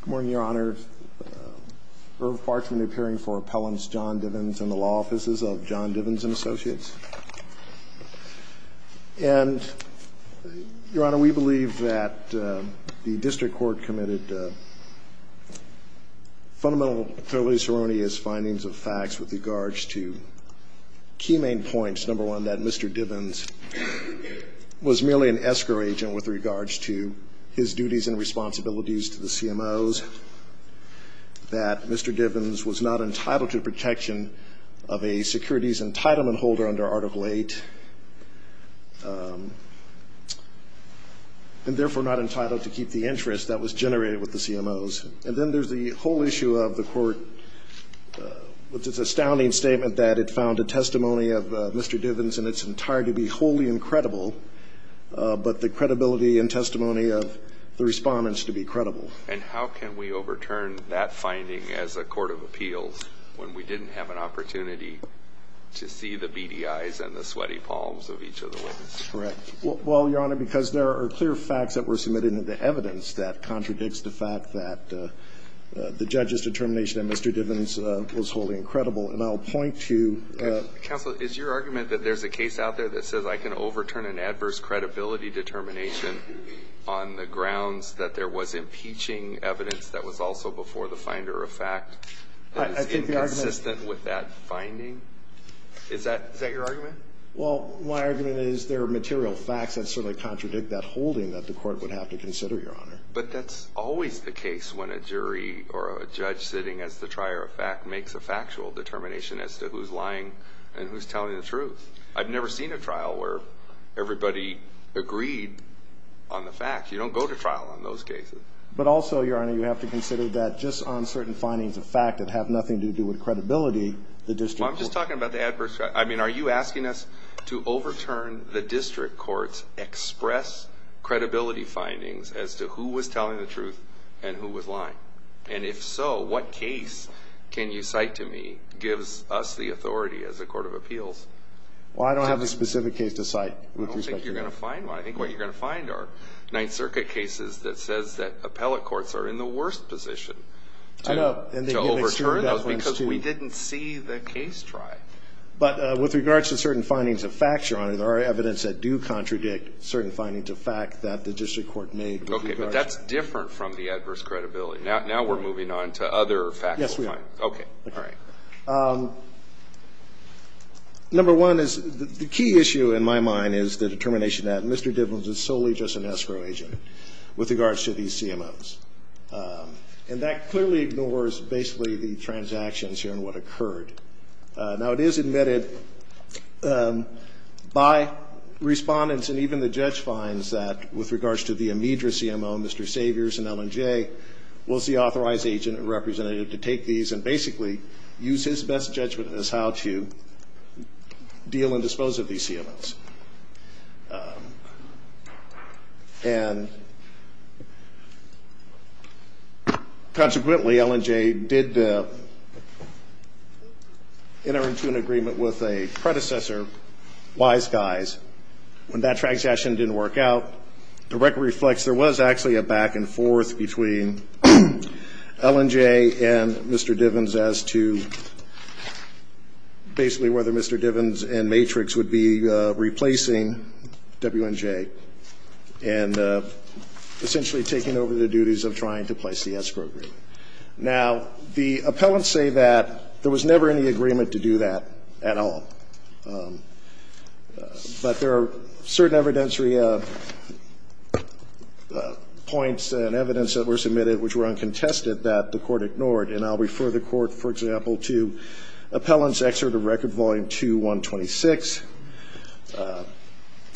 Good morning, Your Honor. Irv Parks from the Appealing for Appellants, Jon Divens and the Law Offices of Jon Divens and Associates. And, Your Honor, we believe that the District Court committed fundamental, fairly seronious findings of facts with regards to key main points. Number one, that Mr. Divens was merely an escrow agent with regards to his duties and responsibilities to the CMOs. That Mr. Divens was not entitled to protection of a securities entitlement holder under Article VIII, and therefore not entitled to keep the interest that was generated with the CMOs. And then there's the whole issue of the Court, with its astounding statement that it found a testimony of Mr. Divens in its entirety to be wholly incredible, but the credibility and testimony of the Respondents to be credible. And how can we overturn that finding as a court of appeals when we didn't have an opportunity to see the beady eyes and the sweaty palms of each of the witnesses? Correct. Well, Your Honor, because there are clear facts that were submitted into evidence that contradicts the fact that the judge's determination that Mr. Divens was wholly incredible. And I'll point to the ---- Counsel, is your argument that there's a case out there that says I can overturn an adverse credibility determination on the grounds that there was impeaching evidence that was also before the finder of fact that is inconsistent with that finding? Is that your argument? Well, my argument is there are material facts that certainly contradict that holding that the Court would have to consider, Your Honor. But that's always the case when a jury or a judge sitting as the trier of fact makes a factual determination as to who's lying and who's telling the truth. I've never seen a trial where everybody agreed on the fact. You don't go to trial on those cases. But also, Your Honor, you have to consider that just on certain findings of fact that have nothing to do with credibility, the district court ---- You're asking us to overturn the district court's express credibility findings as to who was telling the truth and who was lying. And if so, what case can you cite to me gives us the authority as a court of appeals? Well, I don't have a specific case to cite with respect to that. I don't think you're going to find one. I think what you're going to find are Ninth Circuit cases that says that appellate courts are in the worst position to overturn those because we didn't see the case try. But with regards to certain findings of fact, Your Honor, there are evidence that do contradict certain findings of fact that the district court made. Okay. But that's different from the adverse credibility. Now we're moving on to other factual findings. Yes, we are. Okay. All right. Number one is the key issue in my mind is the determination that Mr. Dibbins is solely just an escrow agent with regards to these CMOs. And that clearly ignores basically the transactions here and what occurred. Now, it is admitted by Respondents and even the judge finds that with regards to the immediate CMO, Mr. Saviors and L&J, was the authorized agent and representative to take these and basically use his best judgment as how to deal and dispose of these CMOs. And consequently, L&J did enter into an agreement with a predecessor, Wise Guys, when that transaction didn't work out. The record reflects there was actually a back-and-forth between L&J and Mr. Dibbins as to basically whether Mr. Dibbins and Matrix would be responsible. Now, there are certain evidence points and evidence that were submitted, which were uncontested, that the Court ignored. And I'll refer the Court, for example, to Appellant's Excerpt of Record, Volume 2, 126. And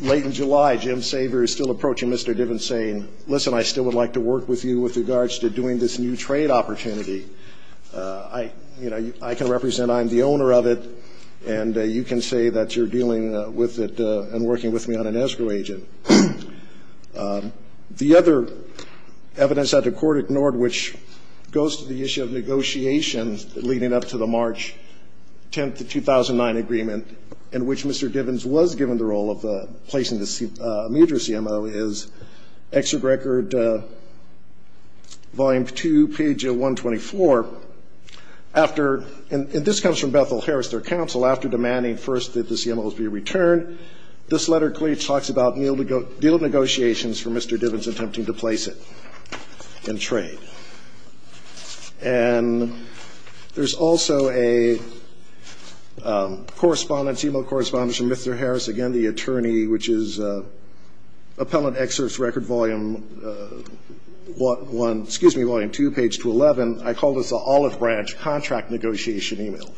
late in July, Jim Saviors still approaching Mr. Dibbins saying, listen, I still would like to work with you with regards to doing this new trade opportunity. I, you know, I can represent, I'm the owner of it, and you can say that you're dealing with it and working with me on an escrow agent. The other evidence that the Court ignored, which goes to the issue of negotiations leading up to the March 10th, 2009, agreement in which Mr. Dibbins was given the role of placing the major CMO, is Excerpt of Record, Volume 2, page 124. After, and this comes from Bethel Harris, their counsel, after demanding first that the CMOs be returned. This letter clearly talks about deal negotiations for Mr. Dibbins attempting to place it in trade. And there's also a correspondence, e-mail correspondence from Mr. Harris, again, the attorney, which is Appellant Excerpt of Record, Volume 1, excuse me, Volume 2, page 211. I called this an Olive Branch contract negotiation e-mail,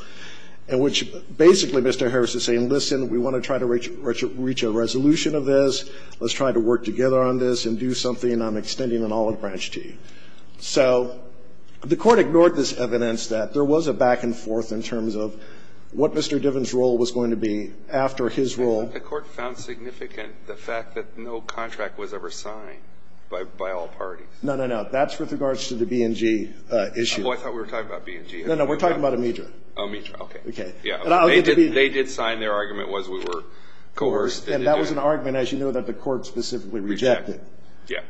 in which basically Mr. Harris is saying, listen, we want to try to reach a resolution of this, let's try to work together on this and do something on extending an Olive Branch to you. So the Court ignored this evidence that there was a back and forth in terms of what Mr. Dibbins' role was going to be after his role. The Court found significant the fact that no contract was ever signed by all parties. No, no, no. That's with regards to the B&G issue. Oh, I thought we were talking about B&G. No, no. We're talking about Amidra. Amidra, okay. Okay. Yeah. They did sign their argument was we were coerced into doing it. And as you know, that the Court specifically rejected. Yeah.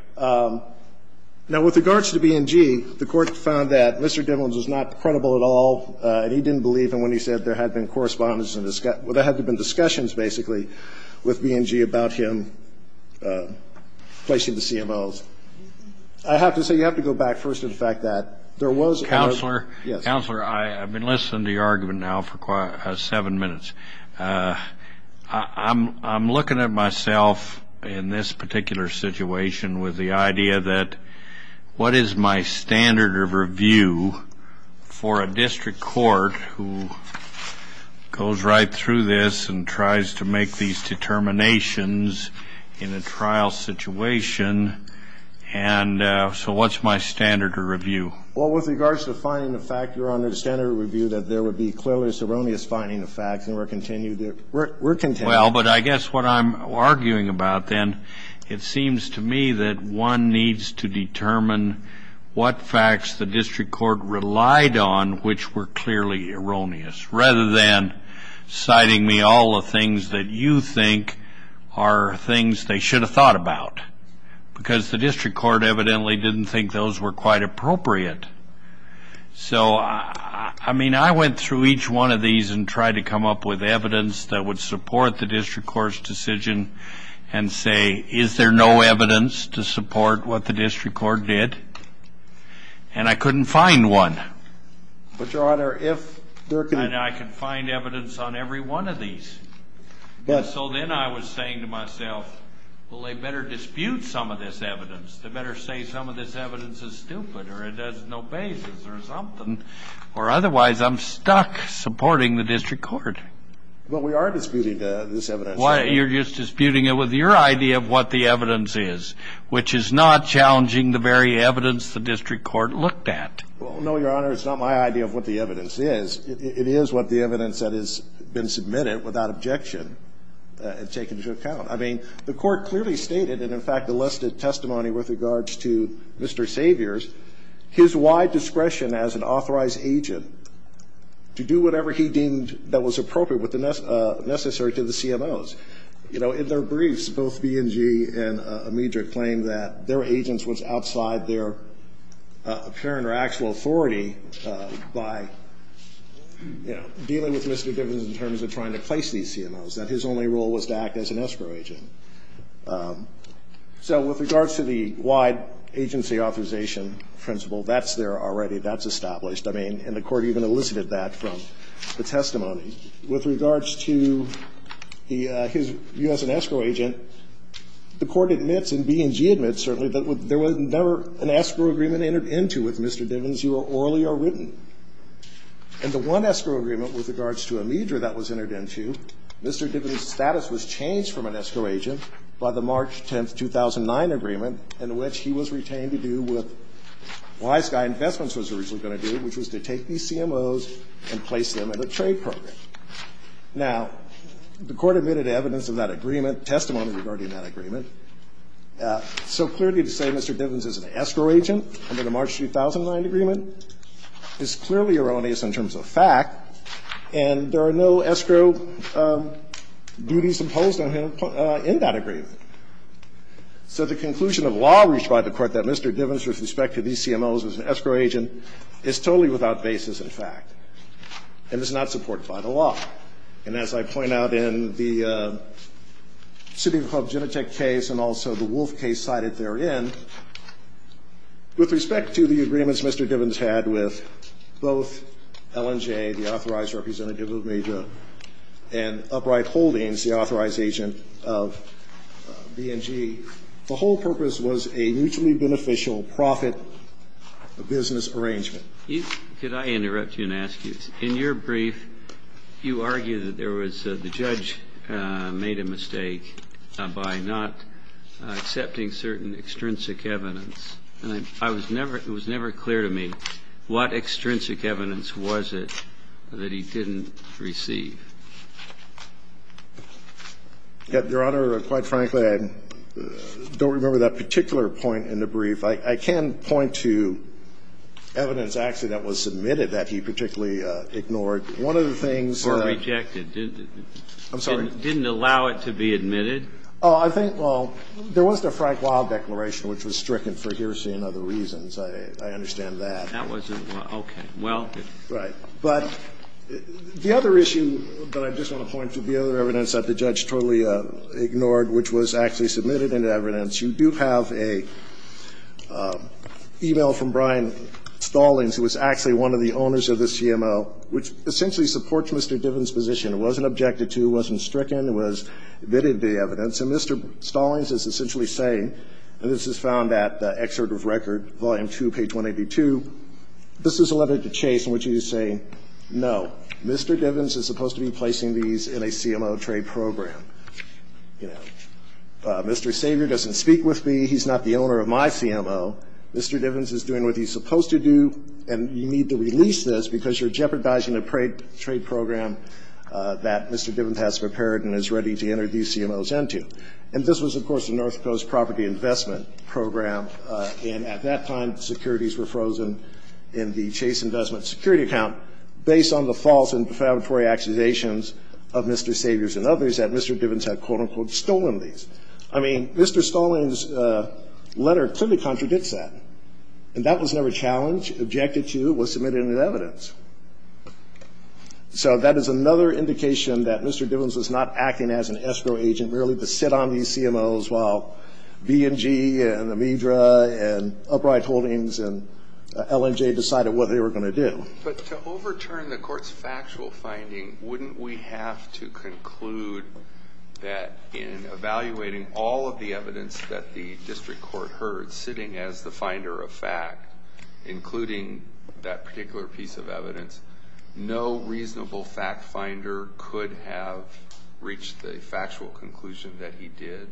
Now, with regards to B&G, the Court found that Mr. Dibbins was not credible at all, and he didn't believe them when he said there had been correspondence and there had been discussions, basically, with B&G about him placing the CMOs. I have to say, you have to go back first to the fact that there was a motion. Counselor. Yes. Counselor, I've been listening to your argument now for seven minutes. I'm looking at myself in this particular situation with the idea that what is my standard of review for a district court who goes right through this and tries to make these determinations in a trial situation? And so what's my standard of review? Well, with regards to finding the fact you're under the standard of review that there would be clearly erroneous finding of facts, and we're continuing. Well, but I guess what I'm arguing about, then, it seems to me that one needs to determine what facts the district court relied on which were clearly erroneous, rather than citing me all the things that you think are things they should have thought about, because the district court evidently didn't think those were quite appropriate. So, I mean, I went through each one of these and tried to come up with evidence that would support the district court's decision and say, is there no evidence to support what the district court did? And I couldn't find one. But, Your Honor, if there could be. And I can find evidence on every one of these. But. So then I was saying to myself, well, they better dispute some of this evidence. They better say some of this evidence is stupid or it has no basis or something, or otherwise I'm stuck supporting the district court. Well, we are disputing this evidence. Well, you're just disputing it with your idea of what the evidence is, which is not challenging the very evidence the district court looked at. Well, no, Your Honor, it's not my idea of what the evidence is. It is what the evidence that has been submitted without objection and taken into account. I mean, the Court clearly stated and, in fact, elicited testimony with regards to Mr. Saviors, his wide discretion as an authorized agent to do whatever he deemed that was appropriate with the necessary to the CMOs. You know, in their briefs, both B&G and Medra claimed that their agents was outside their apparent or actual authority by, you know, dealing with Mr. Divens in terms of trying to place these CMOs, that his only role was to act as an escrow agent. So with regards to the wide agency authorization principle, that's there already. That's established. I mean, and the Court even elicited that from the testimony. With regards to his view as an escrow agent, the Court admits and B&G admits, certainly, that there was never an escrow agreement entered into with Mr. Divens, either orally or written. In the one escrow agreement with regards to Medra that was entered into, Mr. Divens' status was changed from an escrow agent by the March 10, 2009, agreement in which he was retained to do what Wiseguy Investments was originally going to do, which was to take these CMOs and place them in a trade program. Now, the Court admitted evidence of that agreement, testimony regarding that agreement. So clearly to say Mr. Divens is an escrow agent under the March 2009 agreement is clearly erroneous in terms of fact, and there are no escrow duties imposed on him in that agreement. So the conclusion of law reached by the Court that Mr. Divens, with respect to these CMOs, was an escrow agent is totally without basis in fact and is not supported by the law. And as I point out in the City Club Genetec case and also the Wolf case cited therein, with respect to the agreements Mr. Divens had with both L&J, the authorized representative of Medra, and Upright Holdings, the authorized agent of B&G, the whole purpose was a mutually beneficial profit business arrangement. Can I interrupt you and ask you, in your brief you argue that there was the judge made a mistake by not accepting certain extrinsic evidence. And I was never ñ it was never clear to me what extrinsic evidence was it that he didn't receive. Your Honor, quite frankly, I don't remember that particular point in the brief. I can point to evidence actually that was submitted that he particularly ignored. One of the things that ñ Or rejected, didn't it? I'm sorry. Didn't allow it to be admitted? Oh, I think, well, there was the Frank Wilde declaration, which was stricken for hearsay and other reasons. I understand that. That wasn't ñ okay. Well. Right. But the other issue that I just want to point to, the other evidence that the judge totally ignored, which was actually submitted into evidence, you do have a e-mail from Brian Stallings, who was actually one of the owners of the CMO, which essentially supports Mr. Divens' position. It wasn't objected to. It wasn't stricken. It was admitted to the evidence. And Mr. Stallings is essentially saying, and this is found at the excerpt of record, volume two, page 182, this is a letter to Chase in which he is saying, no, Mr. Divens is supposed to be placing these in a CMO trade program. You know, Mr. Savior doesn't speak with me. He's not the owner of my CMO. Mr. Divens is doing what he's supposed to do, and you need to release this because you're jeopardizing a trade program that Mr. Divens has prepared and is ready to enter these CMOs into. And this was, of course, the North Coast Property Investment Program, and at that time, securities were frozen in the Chase Investment Security Account based on the false and defamatory accusations of Mr. Saviors and others that Mr. Divens had, quote, unquote, stolen these. I mean, Mr. Stallings' letter clearly contradicts that, and that was never challenged, objected to, was submitted in the evidence. So that is another indication that Mr. Divens was not acting as an escrow agent, merely to sit on these CMOs while B&G and Amidra and Upright Holdings and L&J decided what they were going to do. But to overturn the Court's factual finding, wouldn't we have to conclude that in evaluating all of the evidence that the district court heard sitting as the finder of fact, including that particular piece of evidence, no reasonable fact finder could have reached the factual conclusion that he did?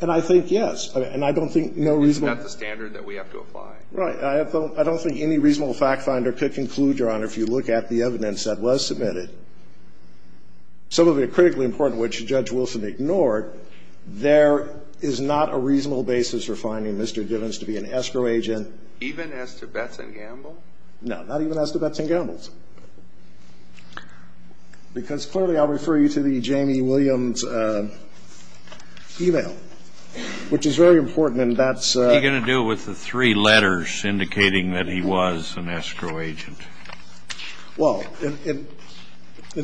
And I think, yes. And I don't think no reasonable. Isn't that the standard that we have to apply? Right. I don't think any reasonable fact finder could conclude, Your Honor, if you look at the evidence that was submitted. Some of it critically important, which Judge Wilson ignored. There is not a reasonable basis for finding Mr. Divens to be an escrow agent. Even as to Betz & Gamble? No. Not even as to Betz & Gamble's. Because clearly I'll refer you to the Jamie Williams' e-mail, which is very important, and that's What are you going to do with the three letters indicating that he was an escrow agent? Well, in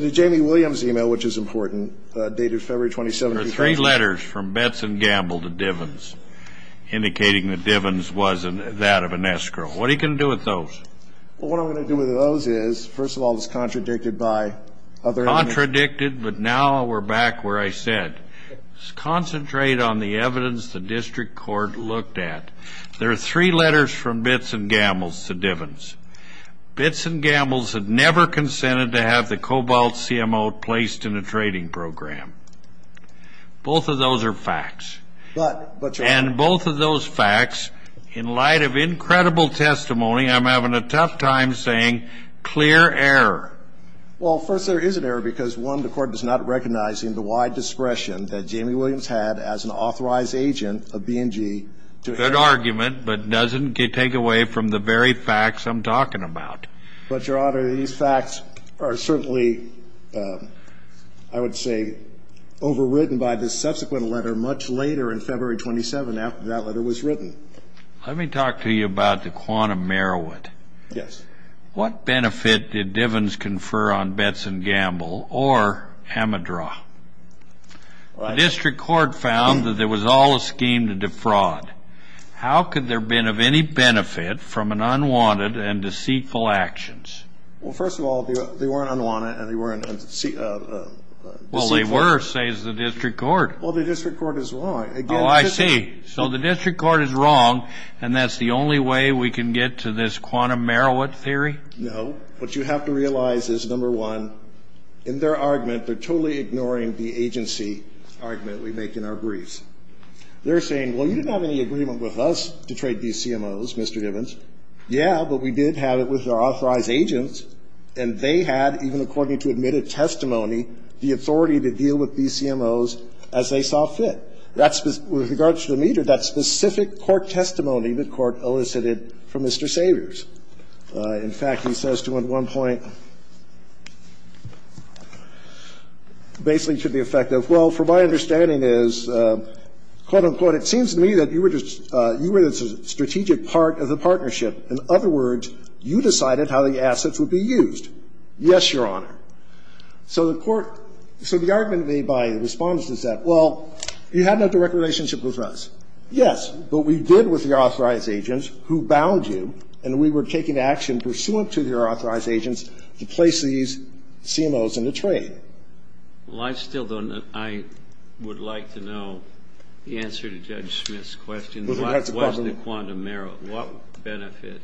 the Jamie Williams' e-mail, which is important, dated February 27, 2013 from Betz & Gamble to Divens, indicating that Divens wasn't that of an escrow. What are you going to do with those? Well, what I'm going to do with those is, first of all, it's contradicted by other evidence. Contradicted, but now we're back where I said. Concentrate on the evidence the district court looked at. There are three letters from Betz & Gamble to Divens. Betz & Gamble's had never consented to have the Cobalt CMO placed in a trading program. Both of those are facts. But, but your Honor. And both of those facts, in light of incredible testimony, I'm having a tough time saying clear error. Well, first there is an error because, one, the court is not recognizing the wide discretion that Jamie Williams had as an authorized agent of B&G to But doesn't take away from the very facts I'm talking about. But your Honor, these facts are certainly, I would say, overwritten by the subsequent letter much later in February 27, after that letter was written. Let me talk to you about the quantum merit. Yes. What benefit did Divens confer on Betz & Gamble or Hamidra? The district court found that there was all a scheme to defraud. How could there have been of any benefit from an unwanted and deceitful actions? Well, first of all, they weren't unwanted and they weren't deceitful. Well, they were, says the district court. Well, the district court is wrong. Oh, I see. So the district court is wrong and that's the only way we can get to this quantum merit theory? No. What you have to realize is, number one, in their argument, they're totally ignoring the agency argument we make in our briefs. They're saying, well, you didn't have any agreement with us to trade these CMOs, Mr. Divens. Yeah, but we did have it with our authorized agents, and they had, even according to admitted testimony, the authority to deal with these CMOs as they saw fit. That's with regard to Hamidra, that specific court testimony the court elicited from Mr. Savers. In fact, he says to him at one point, basically to the effect of, well, from my understanding is, quote, unquote, it seems to me that you were the strategic part of the partnership. In other words, you decided how the assets would be used. Yes, Your Honor. So the court – so the argument made by the Respondents is that, well, you had no direct relationship with us. Yes. But we did with the authorized agents who bound you, and we were taking action pursuant to their authorized agents to place these CMOs into trade. Well, I still don't know. I would like to know the answer to Judge Smith's question. What was the quantum error? What benefit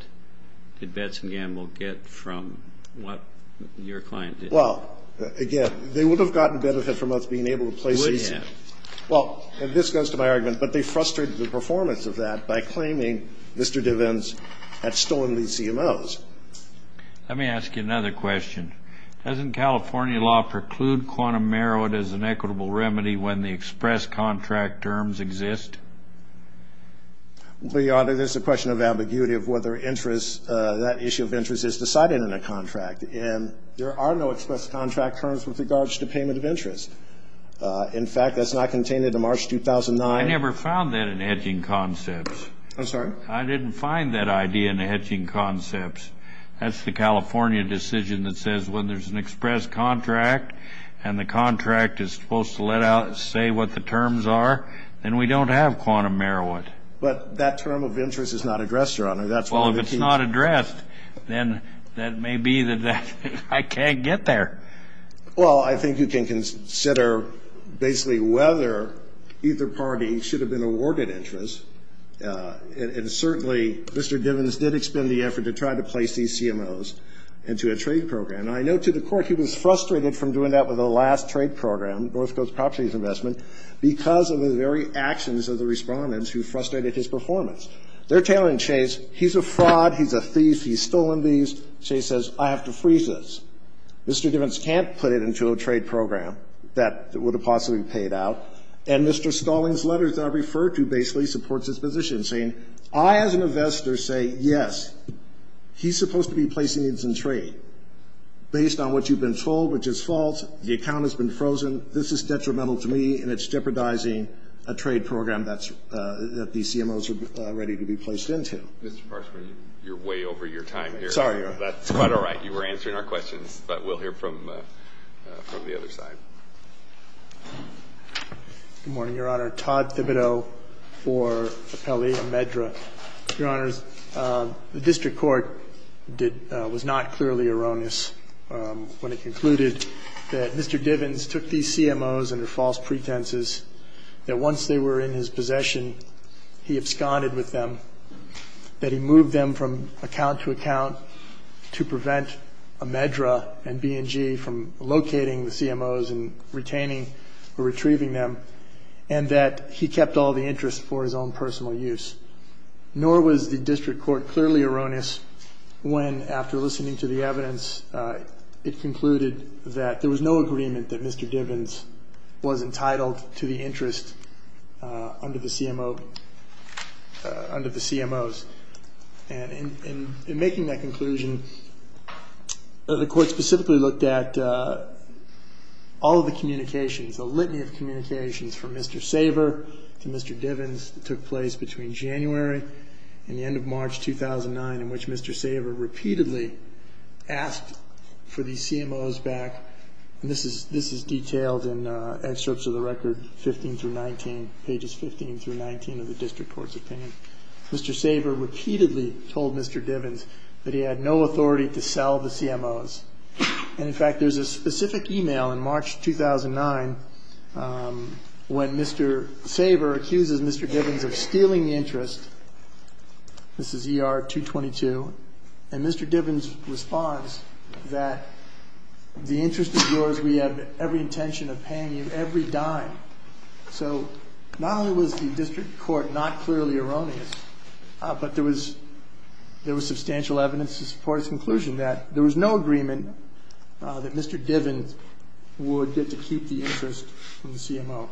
did Betz and Gamble get from what your client did? Well, again, they would have gotten benefit from us being able to place these. They would have. Well, and this goes to my argument, but they frustrated the performance of that by claiming Mr. DeVance had stolen these CMOs. Let me ask you another question. Doesn't California law preclude quantum error as an equitable remedy when the express contract terms exist? Well, Your Honor, there's a question of ambiguity of whether that issue of interest is decided in a contract. And there are no express contract terms with regards to payment of interest. In fact, that's not contained into March 2009. I never found that in the hedging concepts. I'm sorry? I didn't find that idea in the hedging concepts. That's the California decision that says when there's an express contract and the contract is supposed to let out and say what the terms are, then we don't have quantum error. But that term of interest is not addressed, Your Honor. Well, if it's not addressed, then that may be that I can't get there. Well, I think you can consider basically whether either party should have been awarded interest, and certainly Mr. DeVance did expend the effort to try to place these CMOs into a trade program. And I note to the Court he was frustrated from doing that with the last trade program, North Coast Properties Investment, because of the very actions of the Respondents who frustrated his performance. They're tailing Chase. He's a fraud. He's a thief. He's stolen these. Chase says I have to freeze this. Mr. DeVance can't put it into a trade program that would have possibly paid out. And Mr. Stalling's letters that I referred to basically supports his position, saying I as an investor say yes, he's supposed to be placing these in trade. Based on what you've been told, which is false, the account has been frozen. This is detrimental to me, and it's jeopardizing a trade program that the CMOs are ready to be placed into. Mr. Parksman, you're way over your time here. Sorry, Your Honor. That's quite all right. You were answering our questions, but we'll hear from the other side. Good morning, Your Honor. Todd Thibodeau for Appellate and MedDRA. Your Honors, the District Court did – was not clearly erroneous when it concluded that Mr. DeVance took these CMOs under false pretenses, that once they were in his possession, he absconded with them, that he moved them from account to account to prevent MedDRA and B&G from locating the CMOs and retaining or retrieving them, and that he kept all the interest for his own personal use. Nor was the District Court clearly erroneous when, after listening to the evidence, it concluded that there was no agreement that Mr. DeVance was entitled to the interest under the CMOs. And in making that conclusion, the Court specifically looked at all of the communications, the litany of communications from Mr. Saver to Mr. DeVance that took place between January and the end of March 2009, in which Mr. Saver repeatedly asked for these CMOs back. And this is – this is detailed in excerpts of the record 15 through 19, pages 15 through 19 of the District Court's opinion. Mr. Saver repeatedly told Mr. DeVance that he had no authority to sell the CMOs. And, in fact, there's a specific email in March 2009 when Mr. Saver accuses Mr. DeVance of stealing the interest. This is ER-222. And Mr. DeVance responds that the interest is yours. We have every intention of paying you every dime. So not only was the District Court not clearly erroneous, but there was substantial evidence to support its conclusion that there was no agreement that Mr. DeVance would get to keep the interest from the CMO.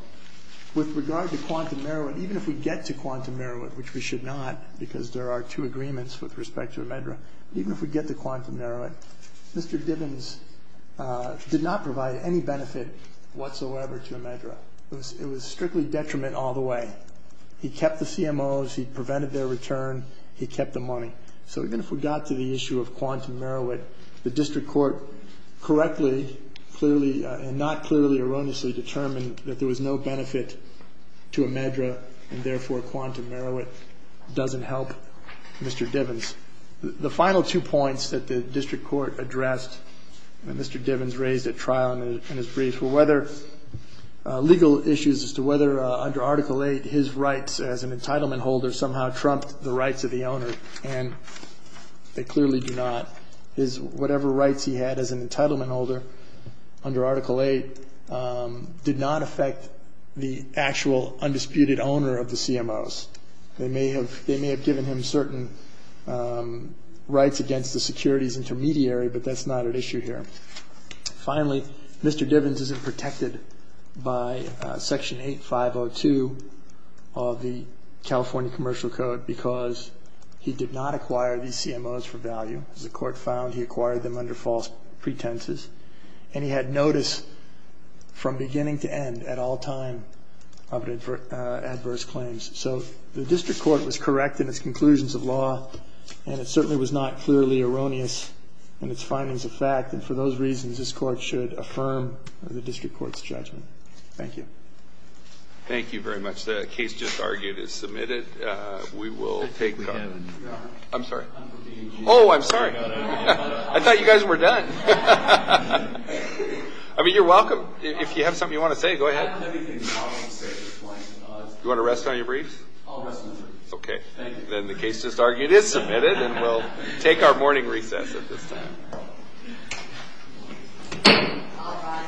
With regard to quantum heroin, even if we get to quantum heroin, which we should not because there are two agreements with respect to Imidra, even if we get to quantum heroin, Mr. DeVance did not provide any benefit whatsoever to Imidra. It was strictly detriment all the way. He kept the CMOs. He prevented their return. He kept the money. So even if we got to the issue of quantum heroin, the District Court correctly, clearly, and not clearly erroneously determined that there was no benefit to Imidra and therefore quantum heroin doesn't help Mr. DeVance. The final two points that the District Court addressed that Mr. DeVance raised at trial in his brief were whether legal issues as to whether under Article 8 his rights as an entitlement holder somehow trumped the rights of the owner. And they clearly do not. Whatever rights he had as an entitlement holder under Article 8 did not affect the actual undisputed owner of the CMOs. They may have given him certain rights against the securities intermediary, but that's not at issue here. Finally, Mr. DeVance isn't protected by Section 8502 of the California Commercial Code because he did not acquire these CMOs for value. As the Court found, he acquired them under false pretenses. And he had notice from beginning to end at all time of adverse claims. So the District Court was correct in its conclusions of law, and it certainly was not clearly erroneous in its findings of fact. And for those reasons, this Court should affirm the District Court's judgment. Thank you. Thank you very much. The case just argued is submitted. We will take the call. I'm sorry. Oh, I'm sorry. I thought you guys were done. I mean, you're welcome. If you have something you want to say, go ahead. Do you want to rest on your briefs? I'll rest on my briefs. Okay. Then the case just argued is submitted, and we'll take our morning recess at this time.